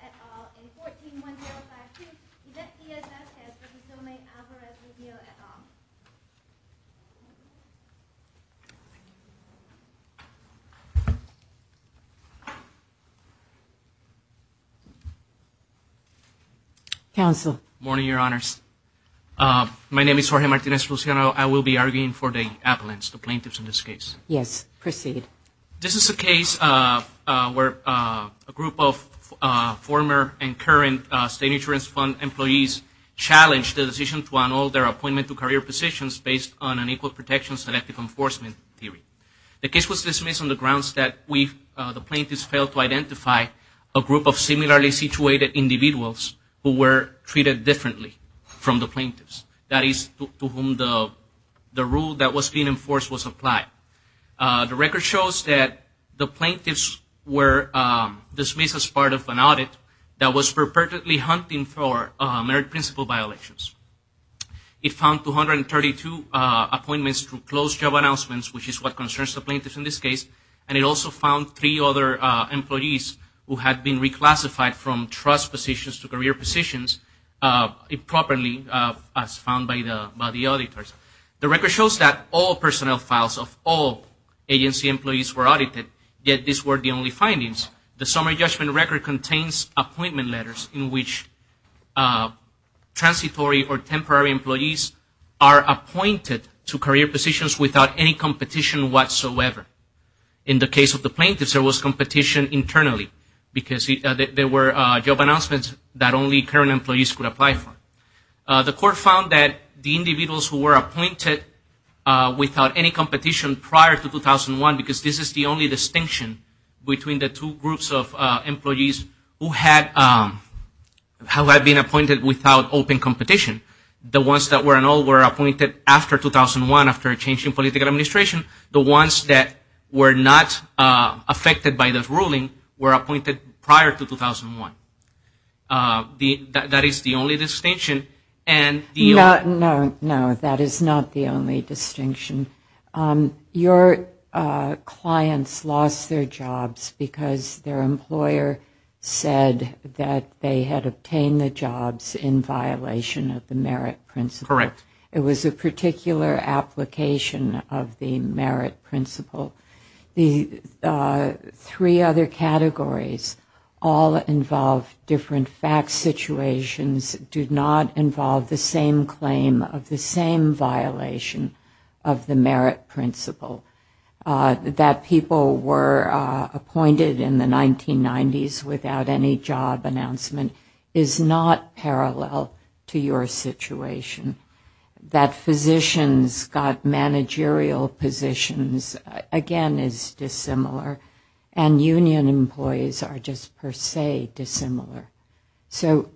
at all. In 14-1052, event ESF has for Gisome Alvarez-Rubio at all. Counsel. Morning, Your Honors. My name is Jorge Martinez-Luciano. I will be arguing for the appellants, the plaintiffs in this case. Yes, proceed. This is a case where a group of former and current State Insurance Fund employees challenged the decision to annul their appointment to career positions based on an equal protection selective enforcement theory. The case was dismissed on the grounds that the plaintiffs failed to identify a group of similarly situated individuals who were treated differently from the plaintiffs, that is, to whom the rule that was being enforced was applied. The record shows that the plaintiffs were dismissed as part of an audit that was purportedly hunting for merit principle violations. It found 232 appointments through closed job announcements, which is what concerns the plaintiffs in this case, and it also found three other employees who had been reclassified from trust positions to career positions improperly, as found by the auditors. The record shows that all personnel files of all agency employees were audited, yet these were the only findings. The summary judgment record contains appointment letters in which transitory or temporary employees are appointed to career positions without any competition whatsoever. In the case of the plaintiffs, there was competition internally because there were job announcements that only current employees could apply for. The individuals who were appointed without any competition prior to 2001, because this is the only distinction between the two groups of employees who had been appointed without open competition, the ones that were in all were appointed after 2001 after a change in political administration, the ones that were not affected by this ruling were appointed prior to 2001. That is the only distinction. No, that is not the only distinction. Your clients lost their jobs because their employer said that they had obtained the jobs in violation of the merit principle. It was a particular application of the merit principle. The three other categories all involve different fact situations, do not involve the same claim of the same violation of the merit principle. That people were appointed in the 1990s without any job announcement is not parallel to your situation. That physicians got managerial positions, again, is dissimilar. And union employees are just per se dissimilar. So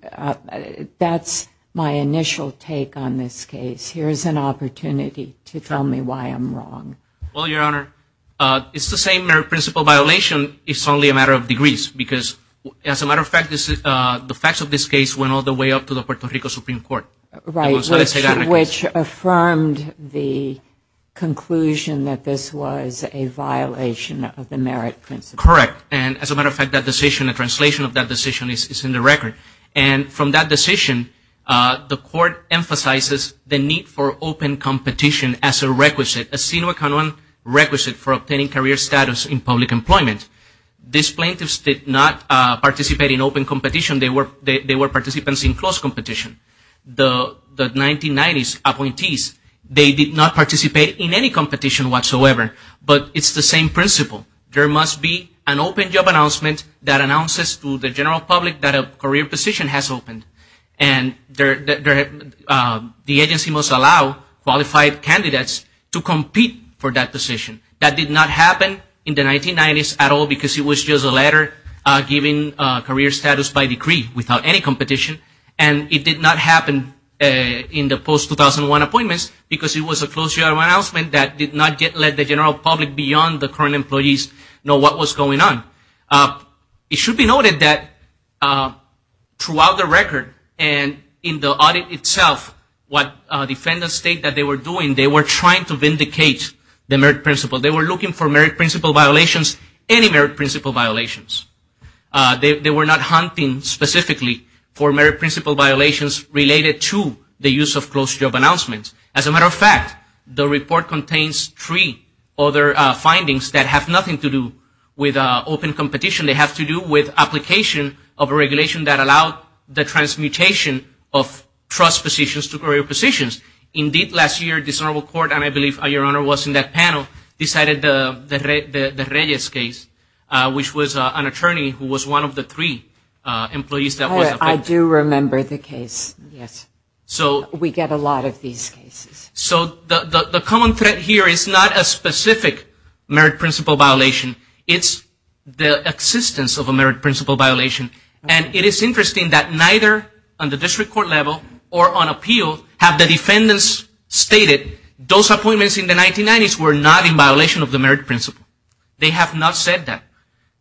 that is my initial take on this case. Here is an opportunity to tell me why I am wrong. Well, Your Honor, it is the same merit principle violation. It is only a matter of degrees because, as a matter of fact, the facts of this case went all the way up to the Puerto Rican court, which affirmed the conclusion that this was a violation of the merit principle. Correct. And, as a matter of fact, that decision, a translation of that decision is in the record. And from that decision, the court emphasizes the need for open competition as a requisite, a sine qua non requisite for obtaining career status in public employment. These plaintiffs did not participate in open competition. They were participants in closed competition. The 1990s appointees, they did not participate in any competition whatsoever. But it is the same principle. There must be an open job announcement that announces to the general public that a career position has opened. And the agency must allow qualified candidates to compete for that position. That did not happen in the 1990s at all because it was just a letter giving career status by decree without any competition. And it did not happen in the post-2001 appointments because it was a closed job announcement that did not let the general public beyond the current employees know what was going on. It should be noted that throughout the record and in the audit itself, what defendants state that they were doing, they were trying to vindicate the merit principle. They were looking for merit principle violations, any merit principle violations. They were not hunting specifically for merit principle violations related to the use of closed job announcements. As a matter of fact, the report contains three other findings that have nothing to do with open competition. They have to do with application of a regulation that allowed the transmutation of trust positions to career positions. Indeed, last year, the Senate will court, and I believe your Honor was in that panel, decided the Reyes case, which was an attorney who was one of the three employees that was affected. I do remember the case, yes. We get a lot of these cases. So the common threat here is not a specific merit principle violation. It's the existence of a merit principle violation. And it is interesting that neither on the district court level or on appeal have the defendants stated those appointments in the 1990s were not in violation of the merit principle. They have not said that.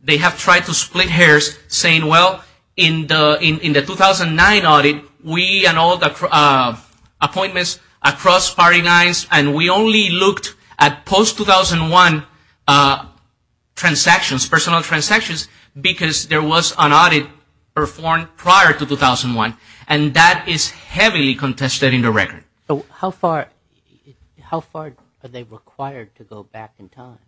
They have tried to split hairs saying, well, in the 2009 audit, we annulled appointments across party lines, and we only looked at post-2001 transactions, personal transactions, because there was an audit performed prior to 2001. And that is heavily contested in the record. How far are they required to go back in time?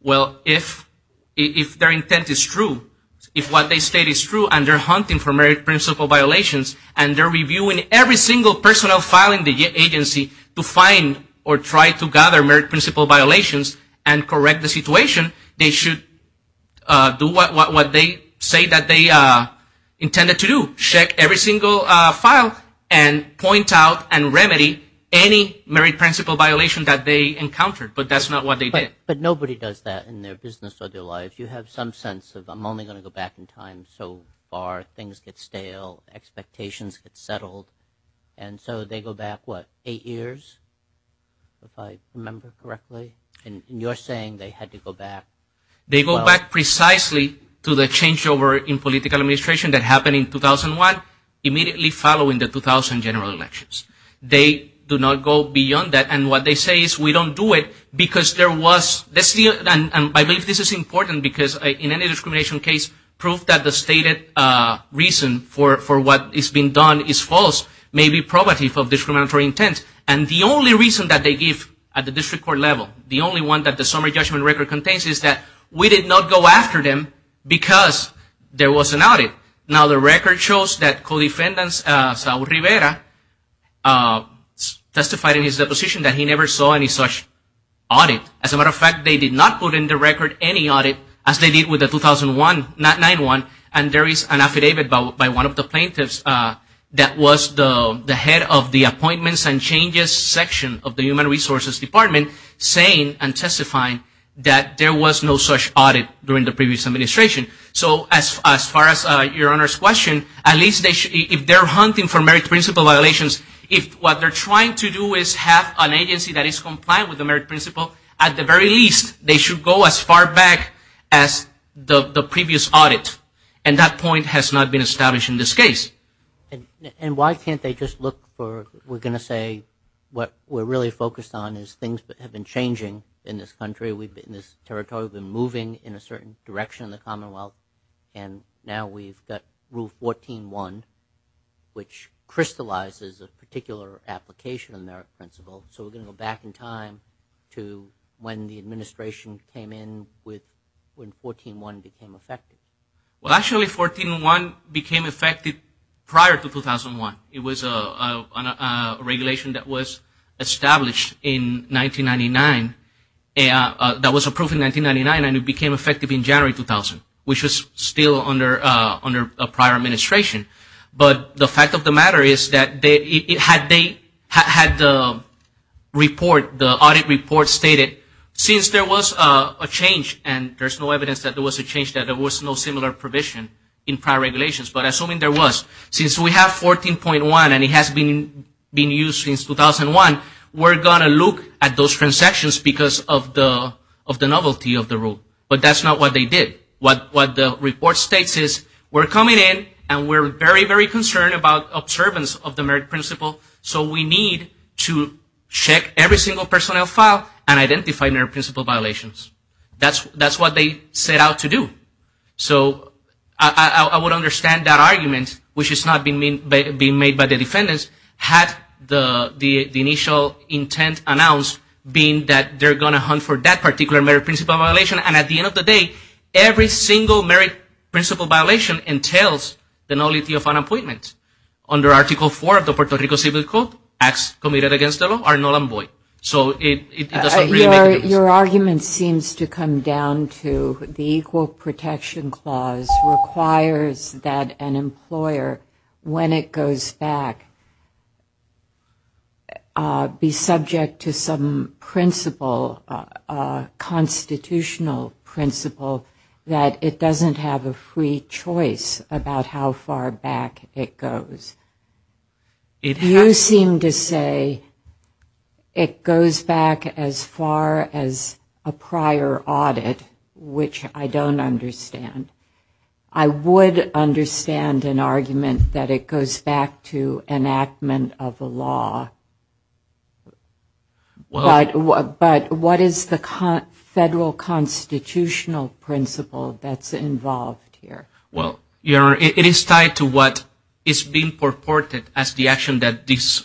Well, if their intent is true, if what they state is true, and they're hunting for merit principle violations, and they're reviewing every single personal file in the agency to find or try to gather merit principle violations and correct the situation, they should do what they say that they intended to do, check every single file and point out and remedy any merit principle violation that they encountered. But that's not what they did. But nobody does that in their business or their life. You have some sense of, I'm only going to go back in time so far. Things get stale. Expectations get settled. And so they go back, what, eight years, if I remember correctly? And you're saying they had to go back. They go back precisely to the changeover in political administration that happened in 2001, immediately following the 2000 general elections. They do not go beyond that. And what they say is, we don't do it because there was, and I believe this is important because in any discrimination case, proof that the stated reason for what is being done is false may be probative of discriminatory intent. And the only reason that they give at the time is that we did not go after them because there was an audit. Now the record shows that co-defendant Saul Rivera testified in his deposition that he never saw any such audit. As a matter of fact, they did not put in the record any audit as they did with the 2001, not 9-1, and there is an affidavit by one of the plaintiffs that was the head of the appointments and changes section of the human resources department saying and testifying that there was no such audit during the previous administration. So as far as your Honor's question, at least if they're hunting for merit principle violations, if what they're trying to do is have an agency that is compliant with the merit principle, at the very least they should go as far back as the previous audit. And that point has not been established in this case. And why can't they just look for, we're going to say, what we're really focused on is things that have been changing in this country, we've been in this territory, we've been moving in a certain direction in the commonwealth, and now we've got Rule 14-1, which crystallizes a particular application of merit principle. So we're going to go back in time to when the administration came in with when 14-1 became effective. Well actually 14-1 became effective prior to 2001. It was a regulation that was established in 1999, that was approved in 1999, and it became effective in January 2000, which was still under a prior administration. But the fact of the matter is that had the audit report stated since there was a change, and there's no evidence that there was a change, that there was no similar provision in prior regulations, but assuming there was, since we have 14-1 and it has been used since 2001, we're going to look at those transactions because of the novelty of the rule. But that's not what they did. What the report states is we're coming in and we're very, very concerned about observance of the merit principle, so we need to check every single personnel file and identify merit principle violations. That's what they set out to do. So I would understand that argument, which is not being made by the defendants, had the initial intent announced being that they're going to hunt for that particular merit principle violation. And at the end of the day, every single merit principle violation entails the novelty of an appointment. Under Article 4 of the Puerto Rico Civil Code, acts committed against the law are null and void. So it doesn't really make a difference. Your argument seems to come down to the Equal Protection Clause requires that an employer, when it goes back, be subject to some principle, a constitutional principle, that it doesn't have a free choice about how far back it goes. You seem to say it goes back as far as it a prior audit, which I don't understand. I would understand an argument that it goes back to enactment of a law, but what is the federal constitutional principle that's involved here? Well, it is tied to what is being purported as the action that these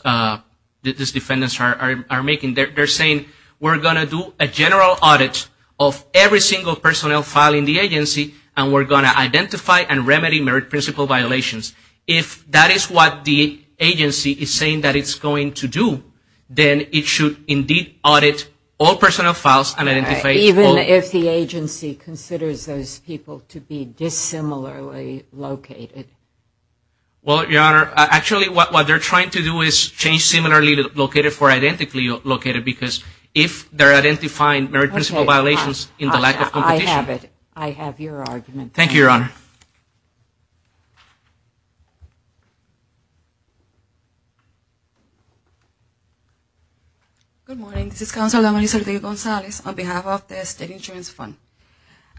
defendants are making. They're saying, we're going to do a general audit of every single personnel file in the agency, and we're going to identify and remedy merit principle violations. If that is what the agency is saying that it's going to do, then it should indeed audit all personnel files and identify all... Even if the agency considers those people to be dissimilarly located. Well, Your Honor, actually what they're trying to do is change similarly located for identically located, because if they're identifying merit principle violations in the lack of competition... Okay, I have it. I have your argument. Thank you, Your Honor. Good morning. This is Counselor Melissa Gonzales on behalf of the State Insurance Fund.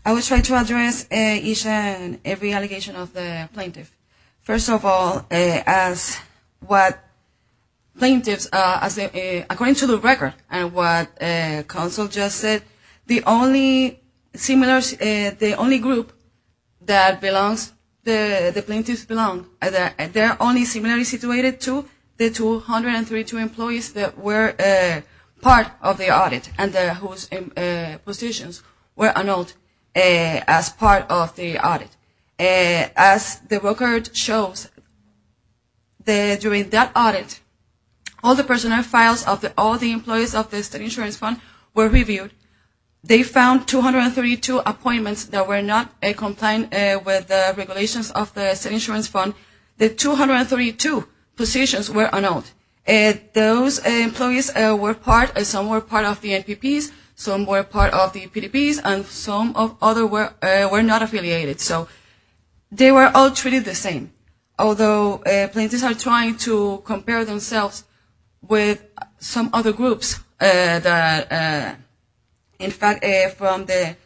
I will try to address each and every allegation of the plaintiff. First of all, as what plaintiffs, according to the record and what Counsel just said, the only group that the plaintiffs belong, they're only similarly situated to the 232 employees that were part of the audit and whose positions were annulled as part of the audit. As the record shows, during that audit, all the personnel files of all the employees of the State Insurance Fund were reviewed. They found 232 appointments that were not compliant with the regulations of the State Insurance Fund. The 232 positions were annulled. Those employees were part, some were part of the NPPs, some were part of the PDPs, and some were not affiliated. So they were all treated the same, although plaintiffs are trying to compare themselves with some other groups that, in fact, from the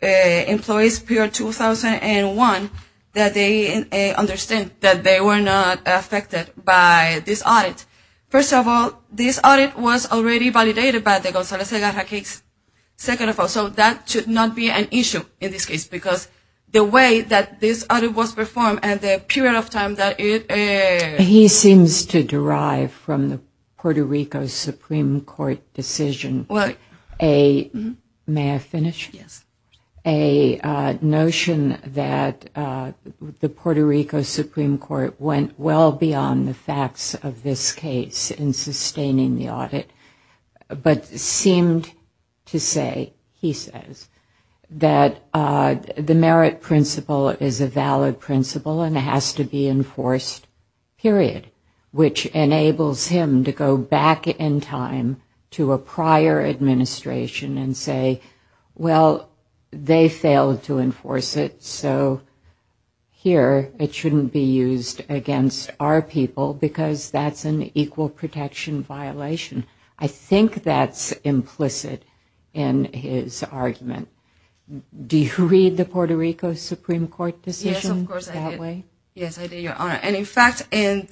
employees period 2001, that they were not affected by this audit. First of all, this audit was already validated by the Gonzales-Agarra case. Second of all, so that should not be an issue in this case, because the way that this audit was performed and the period of time that it is. He seems to derive from the Puerto Rico Supreme Court decision a, may I finish? Yes. A notion that the Puerto Rico Supreme Court went well beyond the facts of this case in sustaining the audit, but seemed to say, he says, that the merit principle is a valid principle and it has to be enforced, period, which enables him to go back in time to a prior administration and say, well, this audit was good, but they failed to enforce it, so here it shouldn't be used against our people, because that's an equal protection violation. I think that's implicit in his argument. Do you read the Puerto Rico Supreme Court decision that way? Yes, of course, I do. Yes, I do, Your Honor. And, in fact, in...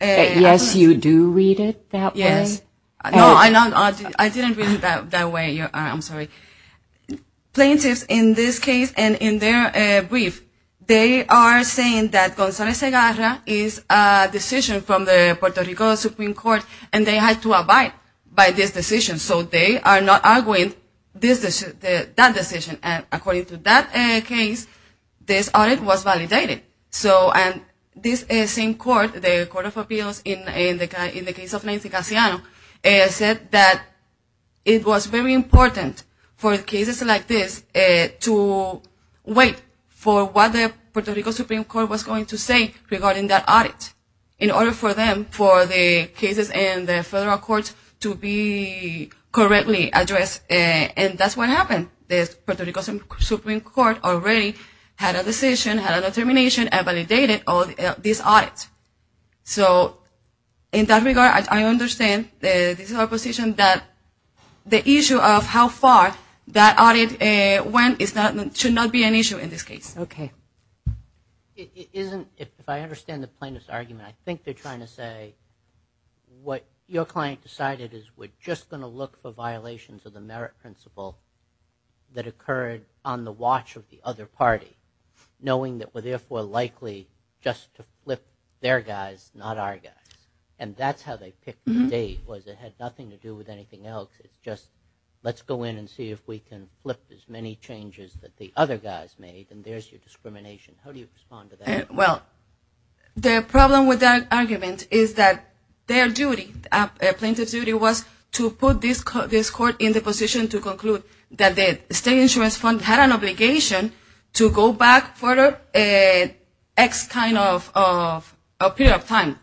Yes, you do read it that way? Yes. No, I didn't read it that way, Your Honor. I'm sorry. Plaintiffs, in this case and in their brief, they are saying that Gonzalez-Segarra is a decision from the Puerto Rico Supreme Court and they had to abide by this decision, so they are not arguing this decision, that decision, and according to that case, this audit was validated. So, and this same court, the Court of Appeals, in the case of Nancy Casiano, said that it was very important for cases like this to wait for what the Puerto Rico Supreme Court was going to say regarding that audit, in order for them, for the cases in the federal courts to be correctly addressed, and that's what happened. The Puerto Rico Supreme Court already had a decision, had a determination, and validated this audit. So, in that regard, I understand that this is our position, that the issue of how far the Supreme Court that audit went should not be an issue in this case. If I understand the plaintiff's argument, I think they're trying to say what your client decided is we're just going to look for violations of the merit principle that occurred on the watch of the other party, knowing that we're therefore likely just to flip their guys, not our guys, and that's how they picked the date, was it had nothing to do with anything else. It's just, let's go in and see if we can flip as many changes that the other guys made, and there's your discrimination. How do you respond to that? Well, the problem with that argument is that their duty, the plaintiff's duty, was to put this court in the position to conclude that the state insurance fund had an obligation to go back for an X kind of period of time,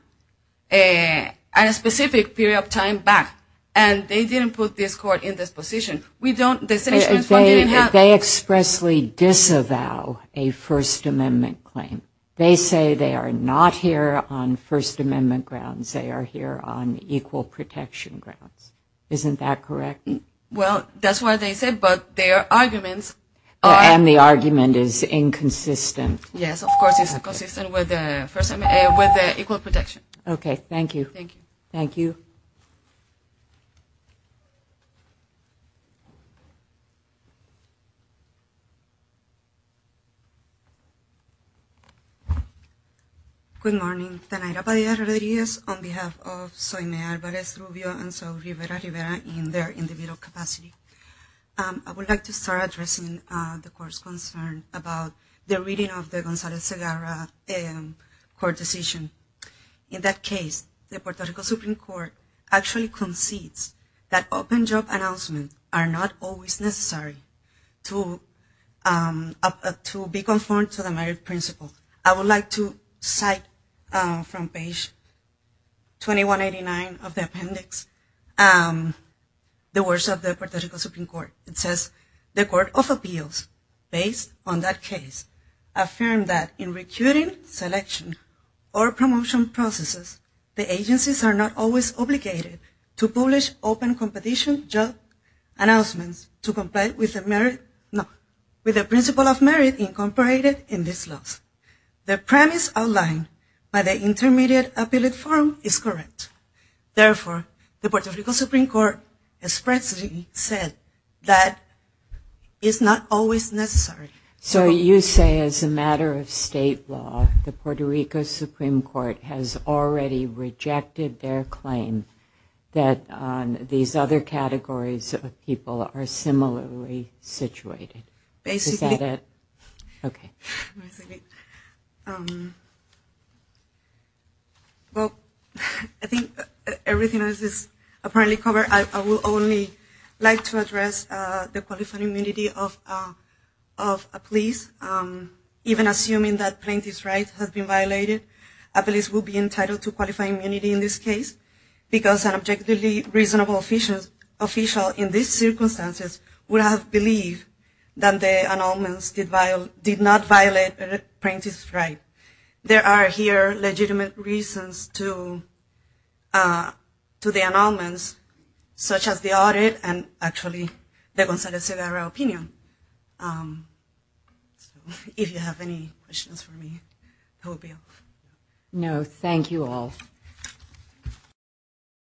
a specific period of time back, and they didn't put this court in this position. They expressly disavow a First Amendment claim. They say they are not here on First Amendment grounds. They are here on equal protection grounds. Isn't that correct? Well, that's what they said, but their arguments are And the argument is inconsistent. Yes, of course it's inconsistent with the Equal Protection. Okay, thank you. Thank you. Thank you. Thank you. Good morning. On behalf of I would like to start addressing the court's concern about the reading of the Gonzales-Segara court decision. In that case, the Puerto Rico Supreme Court actually concedes that open job announcements are not always necessary to be conformed to the merit principle. I would like to cite from page 2189 of the appendix the words of the Puerto Rico Supreme Court. It says, The Court of Appeals, based on that case, affirmed that in recruiting, selection, or promotion processes, the agencies are not always obligated to publish open competition job announcements to comply with the principle of merit incorporated in these laws. The premise outlined by the Intermediate Appeal Forum is correct. Therefore, the Puerto Rico Supreme Court expressly said that it's not always necessary. So you say as a matter of state law, the Puerto Rico Supreme Court has already rejected their claim that these other categories of people are similarly situated. Basically. Well, I think everything else is apparently covered. I would only like to address the qualified immunity of a police, even assuming that plaintiff's right has been violated. A police will be entitled to qualified immunity in this case because an objectively reasonable official in these circumstances would have believed that the annulments did not violate a plaintiff's right. There are here legitimate reasons to the annulments, such as the audit and actually the consensus in our opinion. If you have any questions for me. No, thank you all.